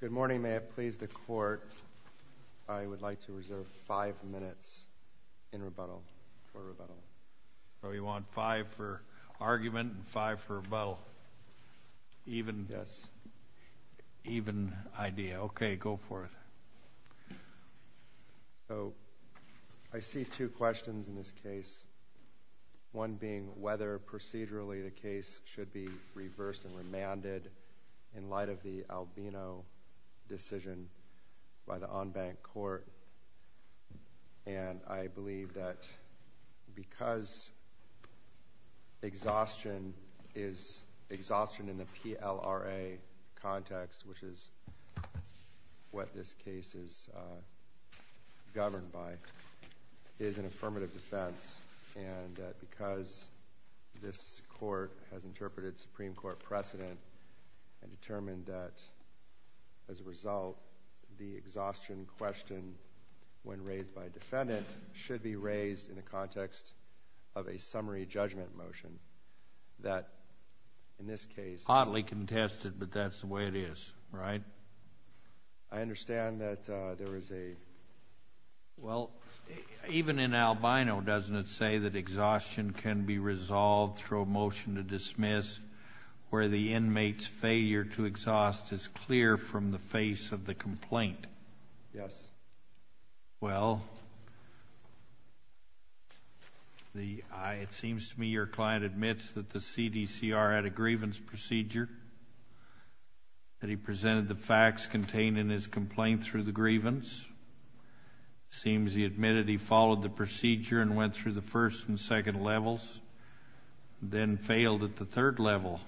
Good morning. May it please the Court, I would like to reserve five minutes in rebuttal for rebuttal. Oh, you want five for argument and five for rebuttal? Yes. Even idea. Okay, go for it. I see two questions in this case, one being whether procedurally the case should be reversed and remanded in light of the Albino decision by the en banc court. And I believe that because exhaustion is exhaustion in the PLRA context, which is what this case is governed by, is an affirmative defense. And because this Court has interpreted Supreme Court precedent and determined that, as a result, the exhaustion question, when raised by a defendant, should be raised in the context of a summary judgment motion that, in this case— Right. I understand that there is a— Well, even in Albino, doesn't it say that exhaustion can be resolved through a motion to dismiss where the inmate's failure to exhaust is clear from the face of the complaint? Yes. Well, it seems to me your client admits that the CDCR had a grievance procedure, that he presented the facts contained in his complaint through the grievance. It seems he admitted he followed the procedure and went through the first and second levels, then failed at the third level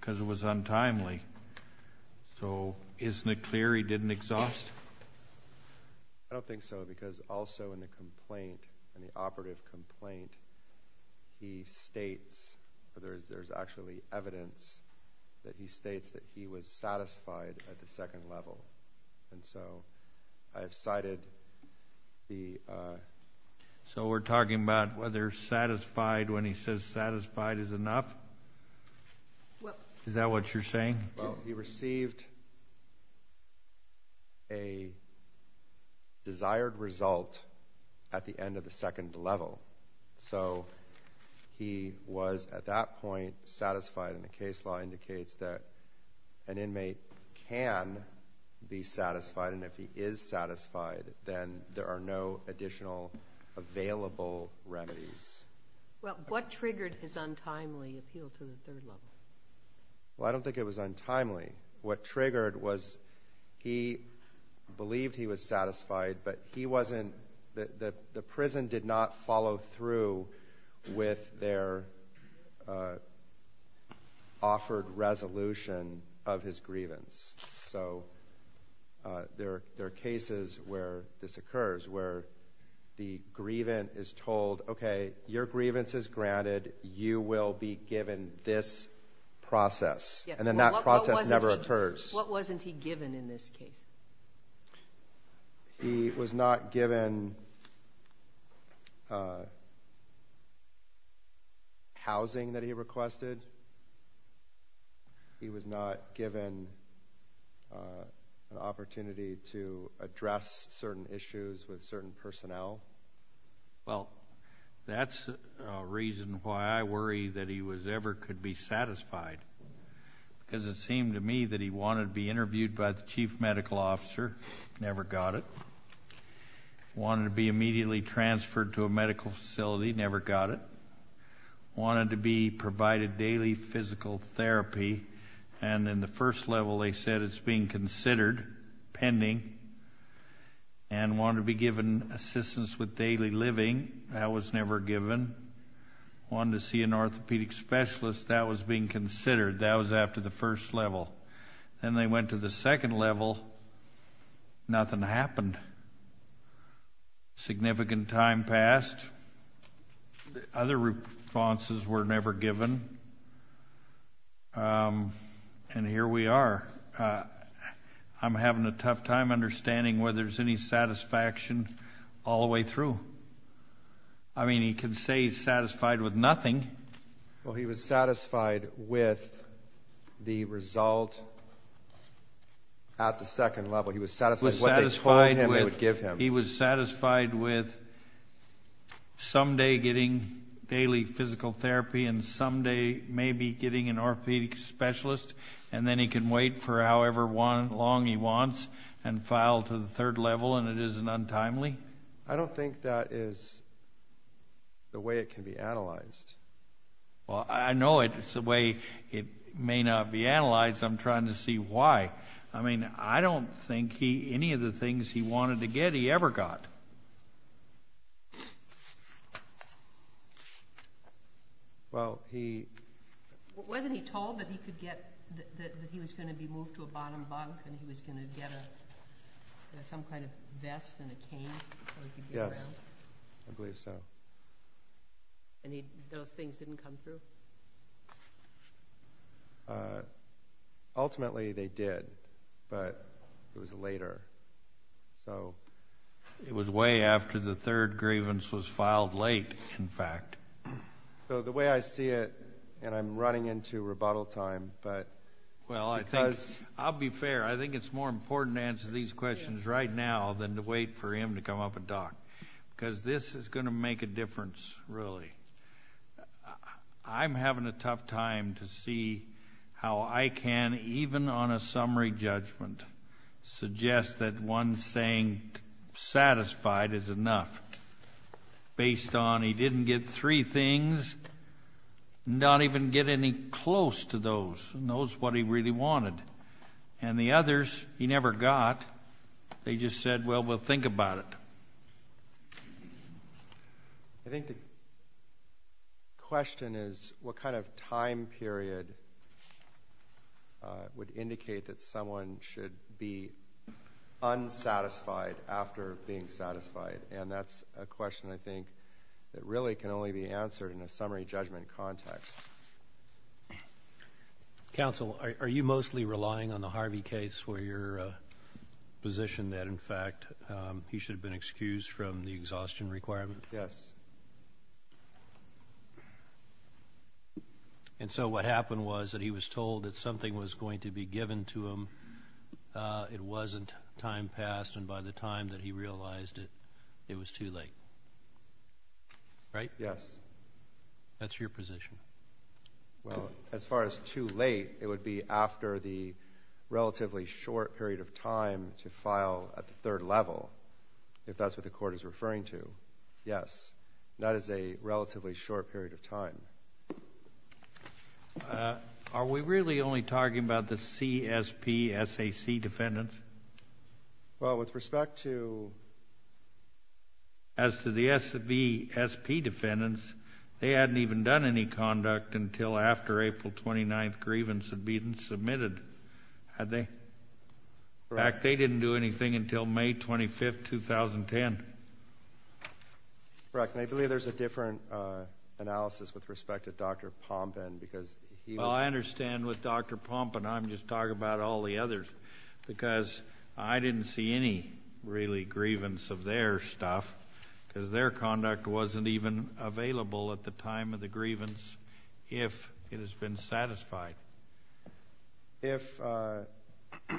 because it was untimely. So isn't it clear he didn't exhaust? I don't think so because also in the complaint, in the operative complaint, he states—there's actually evidence that he states that he was satisfied at the second level. And so I have cited the— So we're talking about whether satisfied when he says satisfied is enough? Is that what you're saying? Well, he received a desired result at the end of the second level. So he was, at that point, satisfied, and the case law indicates that an inmate can be satisfied, and if he is satisfied, then there are no additional available remedies. Well, what triggered his untimely appeal to the third level? Well, I don't think it was untimely. What triggered was he believed he was satisfied, but he wasn't— the prison did not follow through with their offered resolution of his grievance. So there are cases where this occurs, where the grievant is told, okay, your grievance is granted, you will be given this process. And then that process never occurs. What wasn't he given in this case? He was not given housing that he requested. He was not given an opportunity to address certain issues with certain personnel. Well, that's a reason why I worry that he ever could be satisfied, because it seemed to me that he wanted to be interviewed by the chief medical officer, never got it. Wanted to be immediately transferred to a medical facility, never got it. Wanted to be provided daily physical therapy, and in the first level they said it's being considered, pending, and wanted to be given assistance with daily living. That was never given. Wanted to see an orthopedic specialist. That was being considered. That was after the first level. Then they went to the second level. Nothing happened. Significant time passed. Other responses were never given. And here we are. I'm having a tough time understanding whether there's any satisfaction all the way through. I mean, he can say he's satisfied with nothing. Well, he was satisfied with the result at the second level. He was satisfied with what they told him they would give him. He was satisfied with someday getting daily physical therapy and someday maybe getting an orthopedic specialist, and then he can wait for however long he wants and file to the third level, and it isn't untimely. I don't think that is the way it can be analyzed. Well, I know it's the way it may not be analyzed. I'm trying to see why. I mean, I don't think any of the things he wanted to get he ever got. Well, he wasn't told that he was going to be moved to a bottom bunk and he was going to get some kind of vest and a cane so he could get around? Yes, I believe so. And those things didn't come through? Ultimately, they did, but it was later, so. It was way after the third grievance was filed late, in fact. So the way I see it, and I'm running into rebuttal time, but because... Well, I'll be fair. I think it's more important to answer these questions right now than to wait for him to come up and talk because this is going to make a difference, really. I'm having a tough time to see how I can, even on a summary judgment, suggest that one saying satisfied is enough, based on he didn't get three things and not even get any close to those. He knows what he really wanted. And the others he never got. They just said, well, we'll think about it. I think the question is, what kind of time period would indicate that someone should be unsatisfied after being satisfied? And that's a question, I think, that really can only be answered in a summary judgment context. Counsel, are you mostly relying on the Harvey case for your position that, in fact, he should have been excused from the exhaustion requirement? Yes. And so what happened was that he was told that something was going to be given to him. It wasn't. Time passed, and by the time that he realized it, it was too late. Right? Yes. That's your position. Well, as far as too late, it would be after the relatively short period of time to file a third level, if that's what the Court is referring to. Yes. That is a relatively short period of time. Are we really only talking about the CSP, SAC defendants? Well, with respect to the SB, SP defendants, they hadn't even done any conduct until after April 29th. Grievance had been submitted. Had they? Correct. In fact, they didn't do anything until May 25th, 2010. Correct. And I believe there's a different analysis with respect to Dr. Pompan because he was ---- Well, I understand with Dr. Pompan. I'm just talking about all the others because I didn't see any, really, grievance of their stuff because their conduct wasn't even available at the time of the grievance if it has been satisfied. If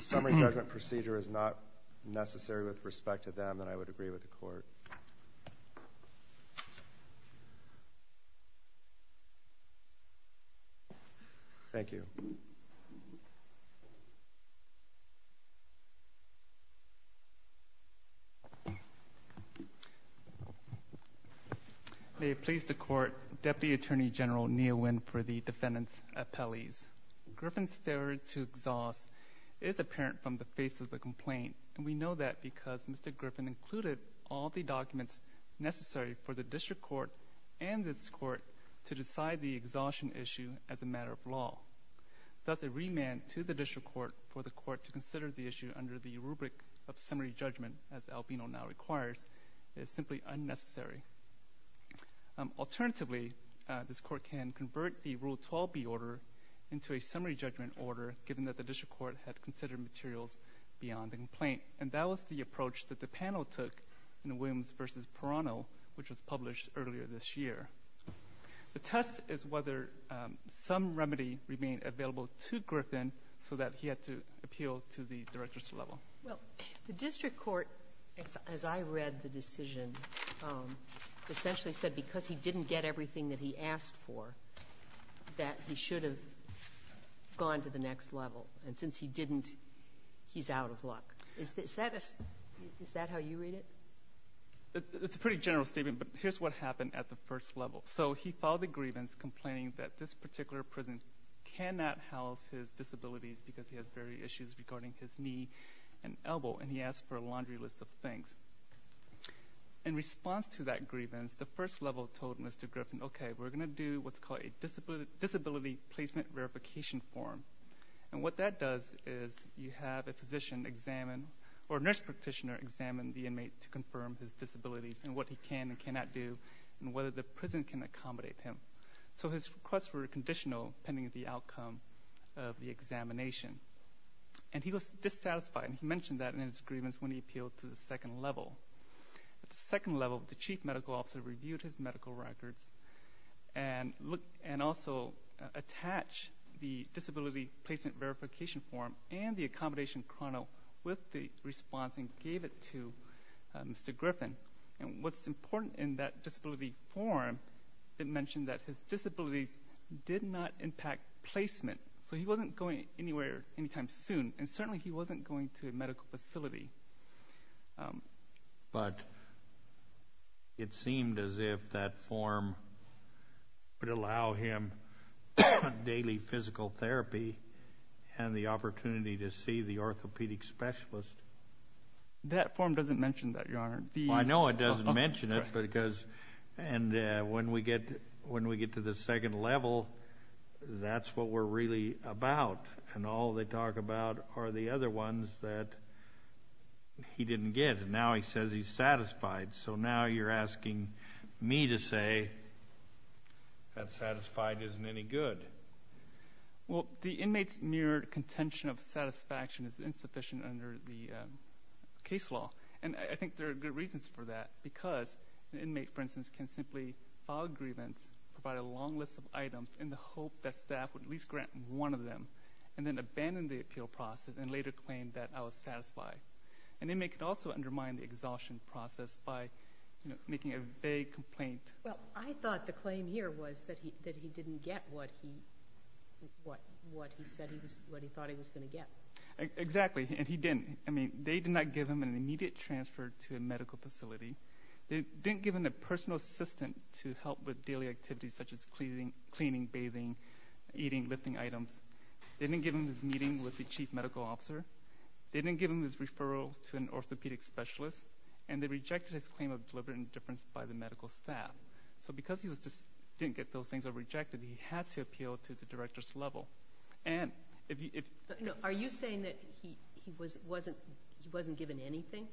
summary judgment procedure is not necessary with respect to them, then I would agree with the Court. Thank you. Thank you. May it please the Court, Deputy Attorney General Nguyen for the defendants' appellees. Griffin's failure to exhaust is apparent from the face of the complaint, and we know that because Mr. Griffin included all the documents necessary for the district court and this court to decide the exhaustion issue as a matter of law. Thus, a remand to the district court for the court to consider the issue under the rubric of summary judgment, as Albino now requires, is simply unnecessary. Alternatively, this court can convert the Rule 12b order into a summary judgment order given that the district court had considered materials beyond the complaint. And that was the approach that the panel took in the Williams v. Perano, which was published earlier this year. The test is whether some remedy remained available to Griffin so that he had to appeal to the directors-level. Well, the district court, as I read the decision, essentially said because he didn't get everything that he asked for, that he should have gone to the next level. And since he didn't, he's out of luck. Is that how you read it? It's a pretty general statement, but here's what happened at the first level. So he filed a grievance complaining that this particular prison cannot house his disabilities because he has various issues regarding his knee and elbow, and he asked for a laundry list of things. In response to that grievance, the first level told Mr. Griffin, okay, we're going to do what's called a disability placement verification form. And what that does is you have a physician examine or a nurse practitioner examine the inmate to confirm his disabilities and what he can and cannot do and whether the prison can accommodate him. So his requests were conditional pending the outcome of the examination. And he was dissatisfied, and he mentioned that in his grievance when he appealed to the second level. At the second level, the chief medical officer reviewed his medical records and also attached the disability placement verification form and the accommodation chrono with the response and gave it to Mr. Griffin. And what's important in that disability form, it mentioned that his disabilities did not impact placement. So he wasn't going anywhere anytime soon, and certainly he wasn't going to a medical facility. But it seemed as if that form would allow him daily physical therapy and the opportunity to see the orthopedic specialist. I know it doesn't mention it because when we get to the second level, that's what we're really about. And all they talk about are the other ones that he didn't get. And now he says he's satisfied. So now you're asking me to say that satisfied isn't any good. Well, the inmate's mere contention of satisfaction is insufficient under the case law. And I think there are good reasons for that because an inmate, for instance, can simply file a grievance, provide a long list of items in the hope that staff would at least grant one of them, and then abandon the appeal process and later claim that I was satisfied. An inmate could also undermine the exhaustion process by making a vague complaint. Well, I thought the claim here was that he didn't get what he said he was going to get. Exactly, and he didn't. I mean, they did not give him an immediate transfer to a medical facility. They didn't give him a personal assistant to help with daily activities such as cleaning, bathing, eating, lifting items. They didn't give him his meeting with the chief medical officer. They didn't give him his referral to an orthopedic specialist. And they rejected his claim of deliberate indifference by the medical staff. So because he didn't get those things rejected, he had to appeal to the director's level. Are you saying that he wasn't given anything?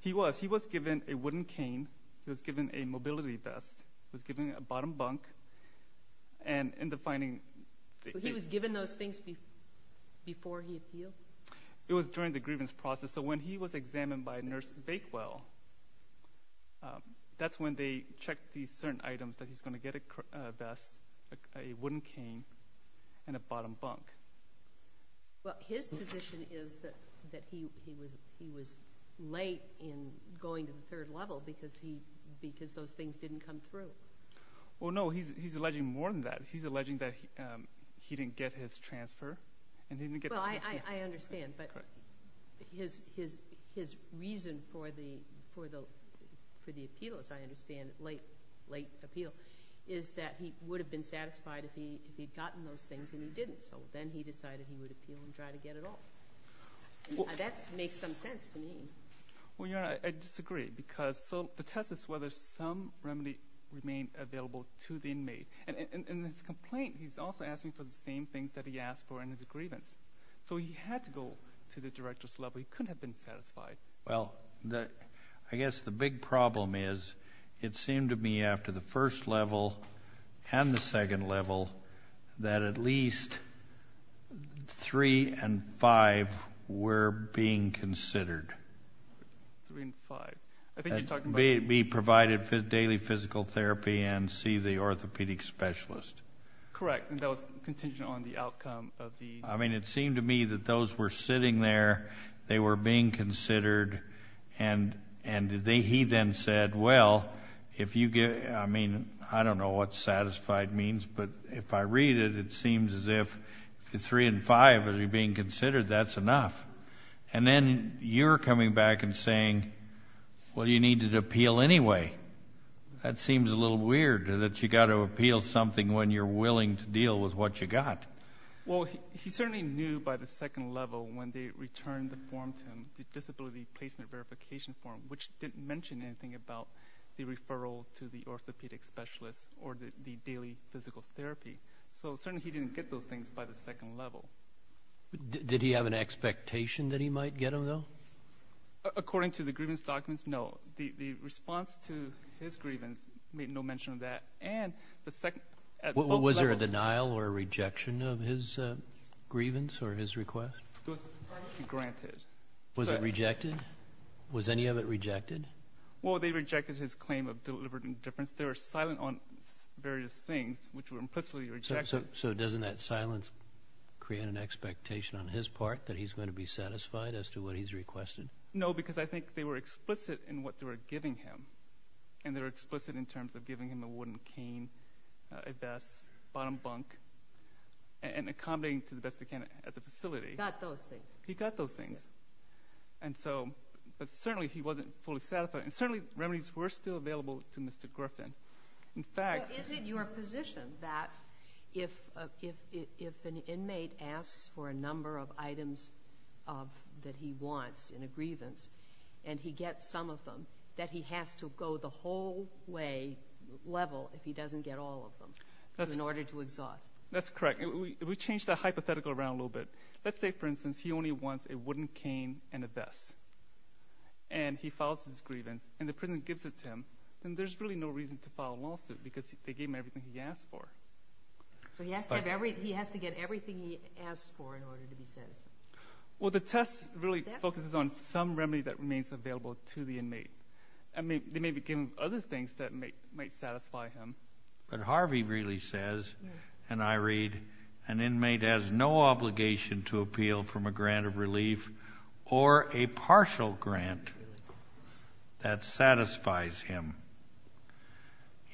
He was. He was given a wooden cane. He was given a mobility vest. He was given a bottom bunk. He was given those things before he appealed? It was during the grievance process. So when he was examined by Nurse Bakewell, that's when they checked these certain items that he's going to get a vest, a wooden cane, and a bottom bunk. Well, his position is that he was late in going to the third level because those things didn't come through. Well, no, he's alleging more than that. He's alleging that he didn't get his transfer. Well, I understand. But his reason for the appeal, as I understand, late appeal, is that he would have been satisfied if he had gotten those things and he didn't. So then he decided he would appeal and try to get it all. That makes some sense to me. Well, Your Honor, I disagree because the test is whether some remedy remained available to the inmate. In his complaint, he's also asking for the same things that he asked for in his grievance. So he had to go to the director's level. He couldn't have been satisfied. Well, I guess the big problem is it seemed to me after the first level and the second level that at least three and five were being considered. Three and five. B, provided daily physical therapy and C, the orthopedic specialist. Correct. And that was contingent on the outcome of the. I mean, it seemed to me that those were sitting there, they were being considered, and he then said, well, if you get, I mean, I don't know what satisfied means, but if I read it, it seems as if three and five are being considered, that's enough. And then you're coming back and saying, well, you needed to appeal anyway. That seems a little weird that you've got to appeal something when you're willing to deal with what you've got. Well, he certainly knew by the second level when they returned the form to him, the disability placement verification form, which didn't mention anything about the referral to the orthopedic specialist or the daily physical therapy. So certainly he didn't get those things by the second level. Did he have an expectation that he might get them, though? According to the grievance documents, no. The response to his grievance made no mention of that. And the second level. Was there a denial or a rejection of his grievance or his request? It was granted. Was it rejected? Was any of it rejected? Well, they rejected his claim of deliberate indifference. They were silent on various things which were implicitly rejected. So doesn't that silence create an expectation on his part that he's going to be satisfied as to what he's requested? No, because I think they were explicit in what they were giving him. And they were explicit in terms of giving him a wooden cane, a vest, bottom bunk, and accommodating to the best they can at the facility. He got those things. He got those things. And so certainly he wasn't fully satisfied. And certainly remedies were still available to Mr. Griffin. Well, is it your position that if an inmate asks for a number of items that he wants in a grievance and he gets some of them, that he has to go the whole way level if he doesn't get all of them in order to exhaust? That's correct. We changed the hypothetical around a little bit. Let's say, for instance, he only wants a wooden cane and a vest. And he files his grievance and the prison gives it to him, then there's really no reason to file a lawsuit because they gave him everything he asked for. So he has to get everything he asked for in order to be satisfied. Well, the test really focuses on some remedy that remains available to the inmate. I mean, they may be giving him other things that might satisfy him. But Harvey really says, and I read, an inmate has no obligation to appeal from a grant of relief or a partial grant that satisfies him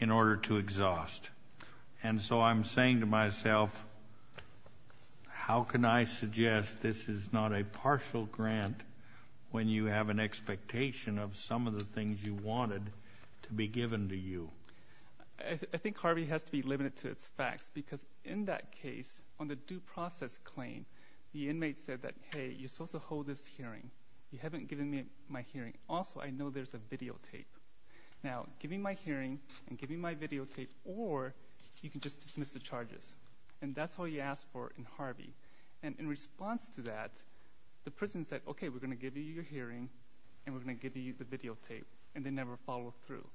in order to exhaust. And so I'm saying to myself, how can I suggest this is not a partial grant when you have an expectation of some of the things you wanted to be given to you? I think Harvey has to be limited to its facts because in that case, on the due process claim, the inmate said that, hey, you're supposed to hold this hearing. You haven't given me my hearing. Also, I know there's a videotape. Now, give me my hearing and give me my videotape, or you can just dismiss the charges. And that's all he asked for in Harvey. And in response to that, the prison said, okay, we're going to give you your hearing and we're going to give you the videotape, and they never followed through.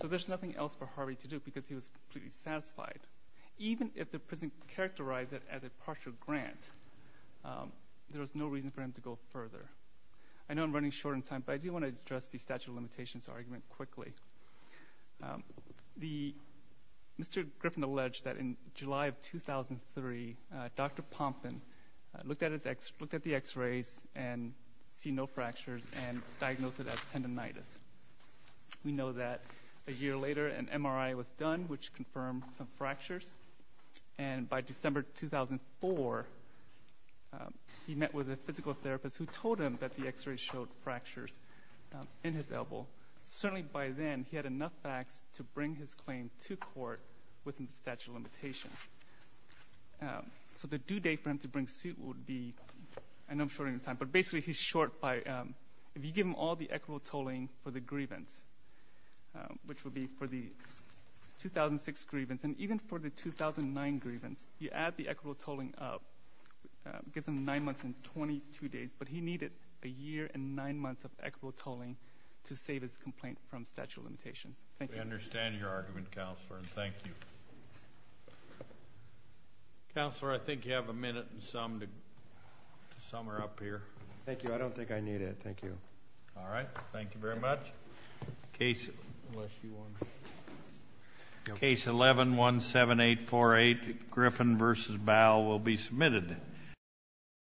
So there's nothing else for Harvey to do because he was completely satisfied. Even if the prison characterized it as a partial grant, there was no reason for him to go further. I know I'm running short on time, but I do want to address the statute of limitations argument quickly. Mr. Griffin alleged that in July of 2003, Dr. Pompkin looked at the X-rays and see no fractures and diagnosed it as tendinitis. We know that a year later an MRI was done, which confirmed some fractures. And by December 2004, he met with a physical therapist who told him that the X-rays showed fractures in his elbow. Certainly by then, he had enough facts to bring his claim to court within the statute of limitations. So the due date for him to bring suit would be, I know I'm short on time, but basically he's short by if you give him all the equitable tolling for the grievance, which would be for the 2006 grievance, and even for the 2009 grievance, you add the equitable tolling up, it gives him nine months and 22 days. But he needed a year and nine months of equitable tolling to save his complaint from statute of limitations. We understand your argument, Counselor, and thank you. Counselor, I think you have a minute and some to sum her up here. Thank you. I don't think I need it. Thank you. All right. Thank you very much. Case 11-17848, Griffin v. Bowe, will be submitted.